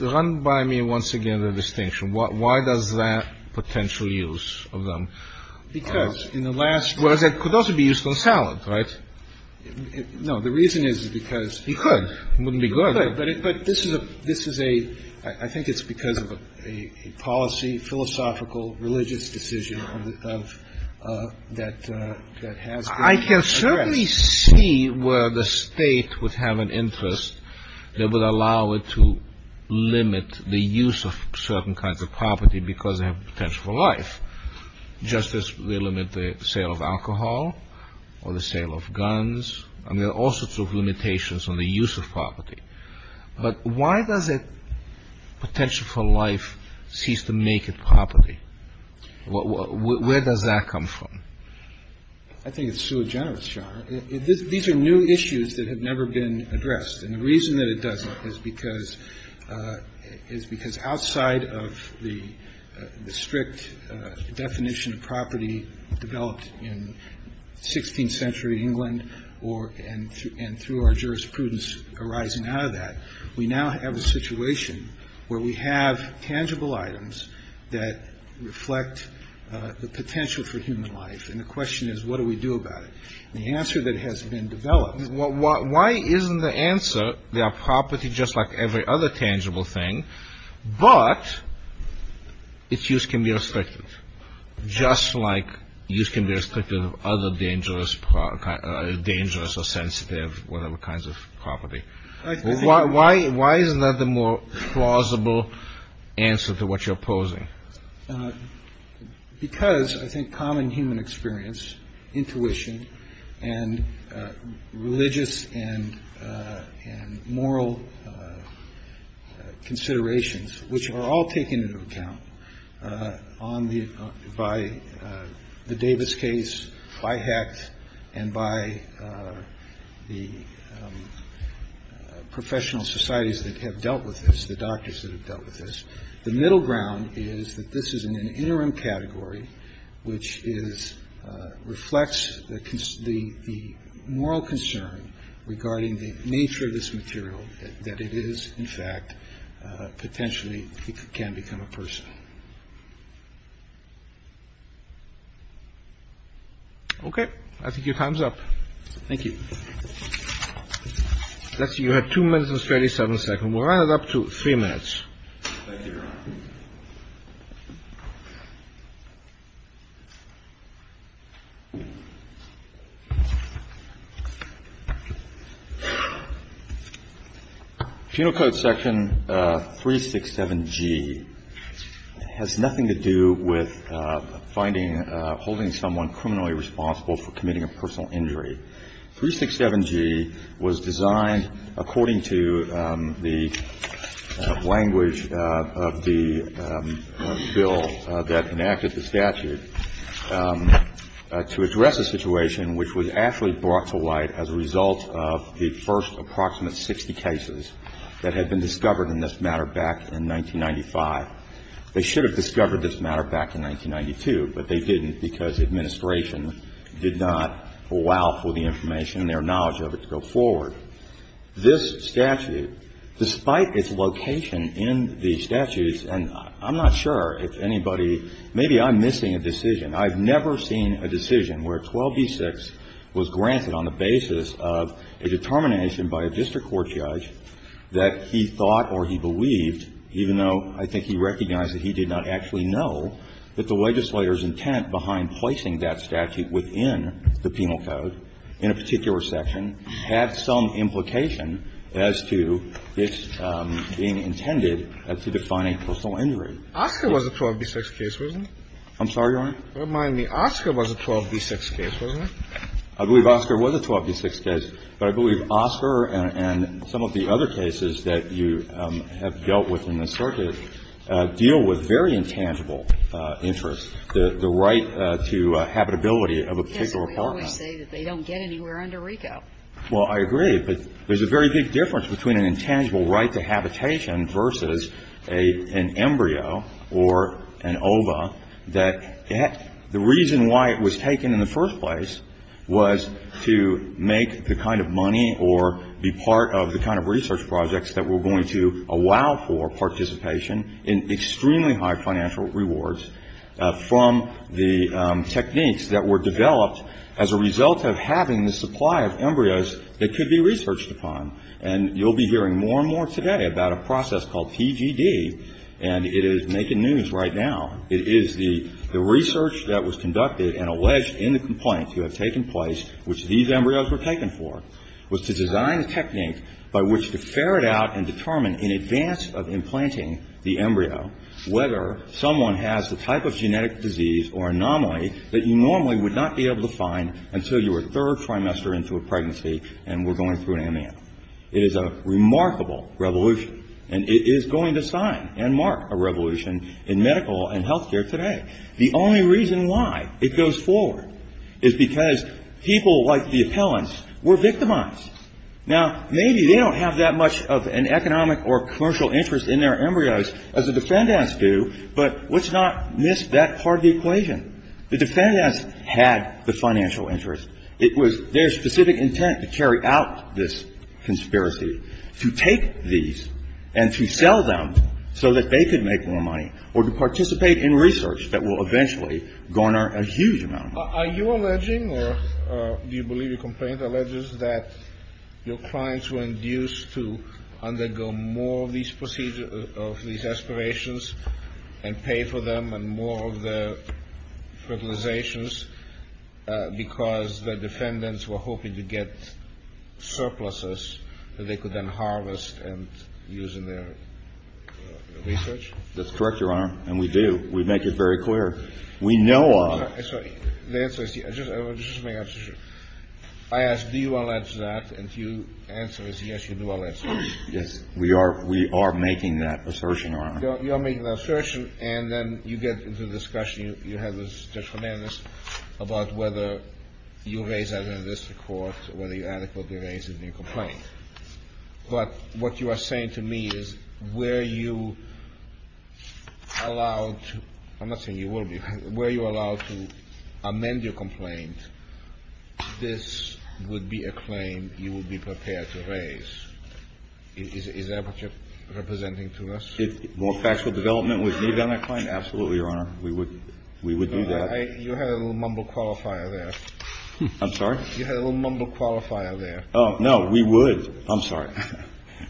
run by me once again the distinction. Why does that potential use of them? Because in the last... Whereas it could also be used on salad, right? No. The reason is because... You could. It wouldn't be good. But this is a — I think it's because of a policy, philosophical, religious decision that has to be addressed. I can certainly see where the state would have an interest that would allow it to limit the use of certain kinds of property because they have potential for life, just as they limit the sale of alcohol or the sale of guns. And there are all sorts of limitations on the use of property. But why does a potential for life cease to make it property? Where does that come from? I think it's sui generis, John. These are new issues that have never been addressed. And the reason that it doesn't is because outside of the strict definition of property developed in 16th century England and through our jurisprudence arising out of that, we now have a situation where we have tangible items that reflect the potential for human life. And the question is, what do we do about it? And the answer that has been developed... Why isn't the answer, there are property just like every other tangible thing, but its use can be restricted, just like use can be restricted of other dangerous or sensitive, whatever kinds of property? Why isn't that the more plausible answer to what you're opposing? Because I think common human experience, intuition, and religious and moral considerations, which are all taken into account by the Davis case, by Hecht, and by the professional societies that have dealt with this, the doctors that have dealt with this. The middle ground is that this is an interim category, which reflects the moral concern regarding the nature of this material, that it is, in fact, potentially, it can become a person. Okay. I think your time's up. Thank you. Let's see. You had 2 minutes and 37 seconds. We'll round it up to 3 minutes. Thank you, Your Honor. Penal code section 367G has nothing to do with finding, holding someone criminally responsible for committing a personal injury. 367G was designed according to the language of the bill that enacted the statute to address a situation which was actually brought to light as a result of the first approximate 60 cases that had been discovered in this matter back in 1995. They should have discovered this matter back in 1992, but they didn't because the administration did not allow for the information and their knowledge of it to go forward. This statute, despite its location in the statutes, and I'm not sure if anybody, maybe I'm missing a decision. I've never seen a decision where 12b-6 was granted on the basis of a determination by a district court judge that he thought or he believed, even though I think he recognized that he did not actually know, that the legislator's intent behind placing that statute within the penal code in a particular section had some implication as to its being intended to define a personal injury. Oscar was a 12b-6 case, wasn't he? I'm sorry, Your Honor? Remind me. Oscar was a 12b-6 case, wasn't he? I believe Oscar was a 12b-6 case, but I believe Oscar and some of the other cases that you have dealt with in this circuit deal with very intangible interests, the right to habitability of a particular apartment. Yes, but we always say that they don't get anywhere under RICO. Well, I agree, but there's a very big difference between an intangible right to habitation versus an embryo or an ova that the reason why it was taken in the first place was to make the kind of money or be part of the kind of research projects that were going to allow for participation in extremely high financial rewards from the techniques that were developed as a result of having the supply of embryos that could be researched upon. And you'll be hearing more and more today about a process called PGD, and it is making news right now. It is the research that was conducted and alleged in the complaint to have taken place, which these embryos were taken for, was to design a technique by which to ferret out and determine in advance of implanting the embryo whether someone has the type of genetic disease or anomaly that you normally would not be able to find until you were third trimester into a pregnancy and were going through an AMAN. It is a remarkable revolution, and it is going to sign and mark a revolution in medical and health care today. The only reason why it goes forward is because people like the appellants were victimized. Now, maybe they don't have that much of an economic or commercial interest in their embryos as the defendants do, but let's not miss that part of the equation. The defendants had the financial interest. It was their specific intent to carry out this conspiracy, to take these and to sell them so that they could make more money or to participate in research that will eventually garner a huge amount of money. Are you alleging or do you believe the complaint alleges that your clients were induced to undergo more of these aspirations and pay for them and more of the fertilizations because the defendants were hoping to get surpluses that they could then harvest and use in their research? That's correct, Your Honor, and we do. We make it very clear. We know of. I'm sorry. The answer is yes. I just want to make an assertion. I asked do you allege that, and your answer is yes, you do allege that. Yes, we are making that assertion, Your Honor. You are making that assertion, and then you get into the discussion. You have this, Judge Fernandes, about whether you raise that in this court, whether you adequately raise it in your complaint. But what you are saying to me is were you allowed to – I'm not saying you will be – were you allowed to amend your complaint, this would be a claim you would be prepared to raise. Is that what you're representing to us? If more factual development was needed on that claim, absolutely, Your Honor. We would do that. You had a little mumble qualifier there. I'm sorry? You had a little mumble qualifier there. No, we would. I'm sorry.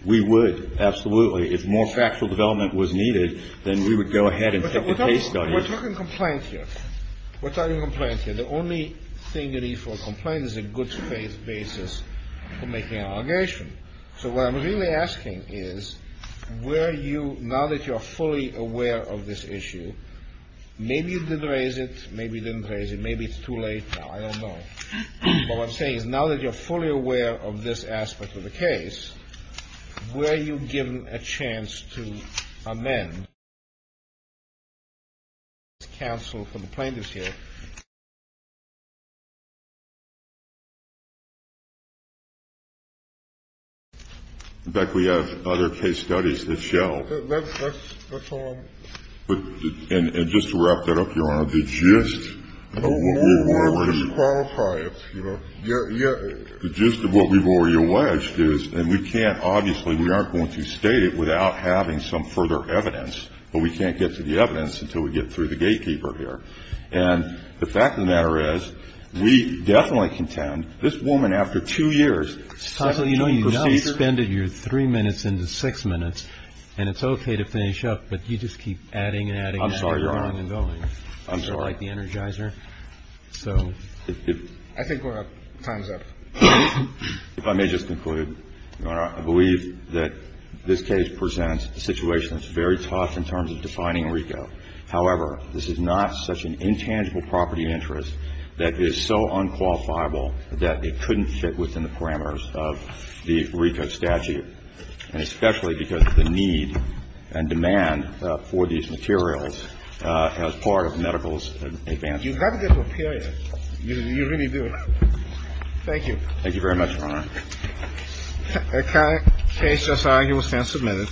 We would, absolutely. If more factual development was needed, then we would go ahead and take the case study. We're talking complaint here. We're talking complaint here. The only thing you need for a complaint is a good faith basis for making an allegation. So what I'm really asking is were you – now that you're fully aware of this issue, maybe you did raise it, maybe you didn't raise it, maybe it's too late. I don't know. But what I'm saying is now that you're fully aware of this aspect of the case, were you given a chance to amend – In fact, we have other case studies that show – That's all I'm – And just to wrap that up, Your Honor, the gist of what we were – The gist of what we've already alleged is – and we can't, obviously, we aren't going to state it without having some further evidence, but we can't get to the evidence until we get through the gatekeeper here. And the fact of the matter is we definitely contend this woman, after two years – You know, you now spend your three minutes into six minutes, and it's okay to finish up, but you just keep adding and adding and adding and going and going. I'm sorry. I think we're – time's up. If I may just conclude, Your Honor, I believe that this case presents a situation that's very tough in terms of defining RICO. However, this is not such an intangible property interest that is so unqualifiable that it couldn't fit within the parameters of the RICO statute, and especially because of the need and demand for these materials as part of medical advances. You have to get to a period. You really do. Thank you. Thank you very much, Your Honor. The case is argued and submitted.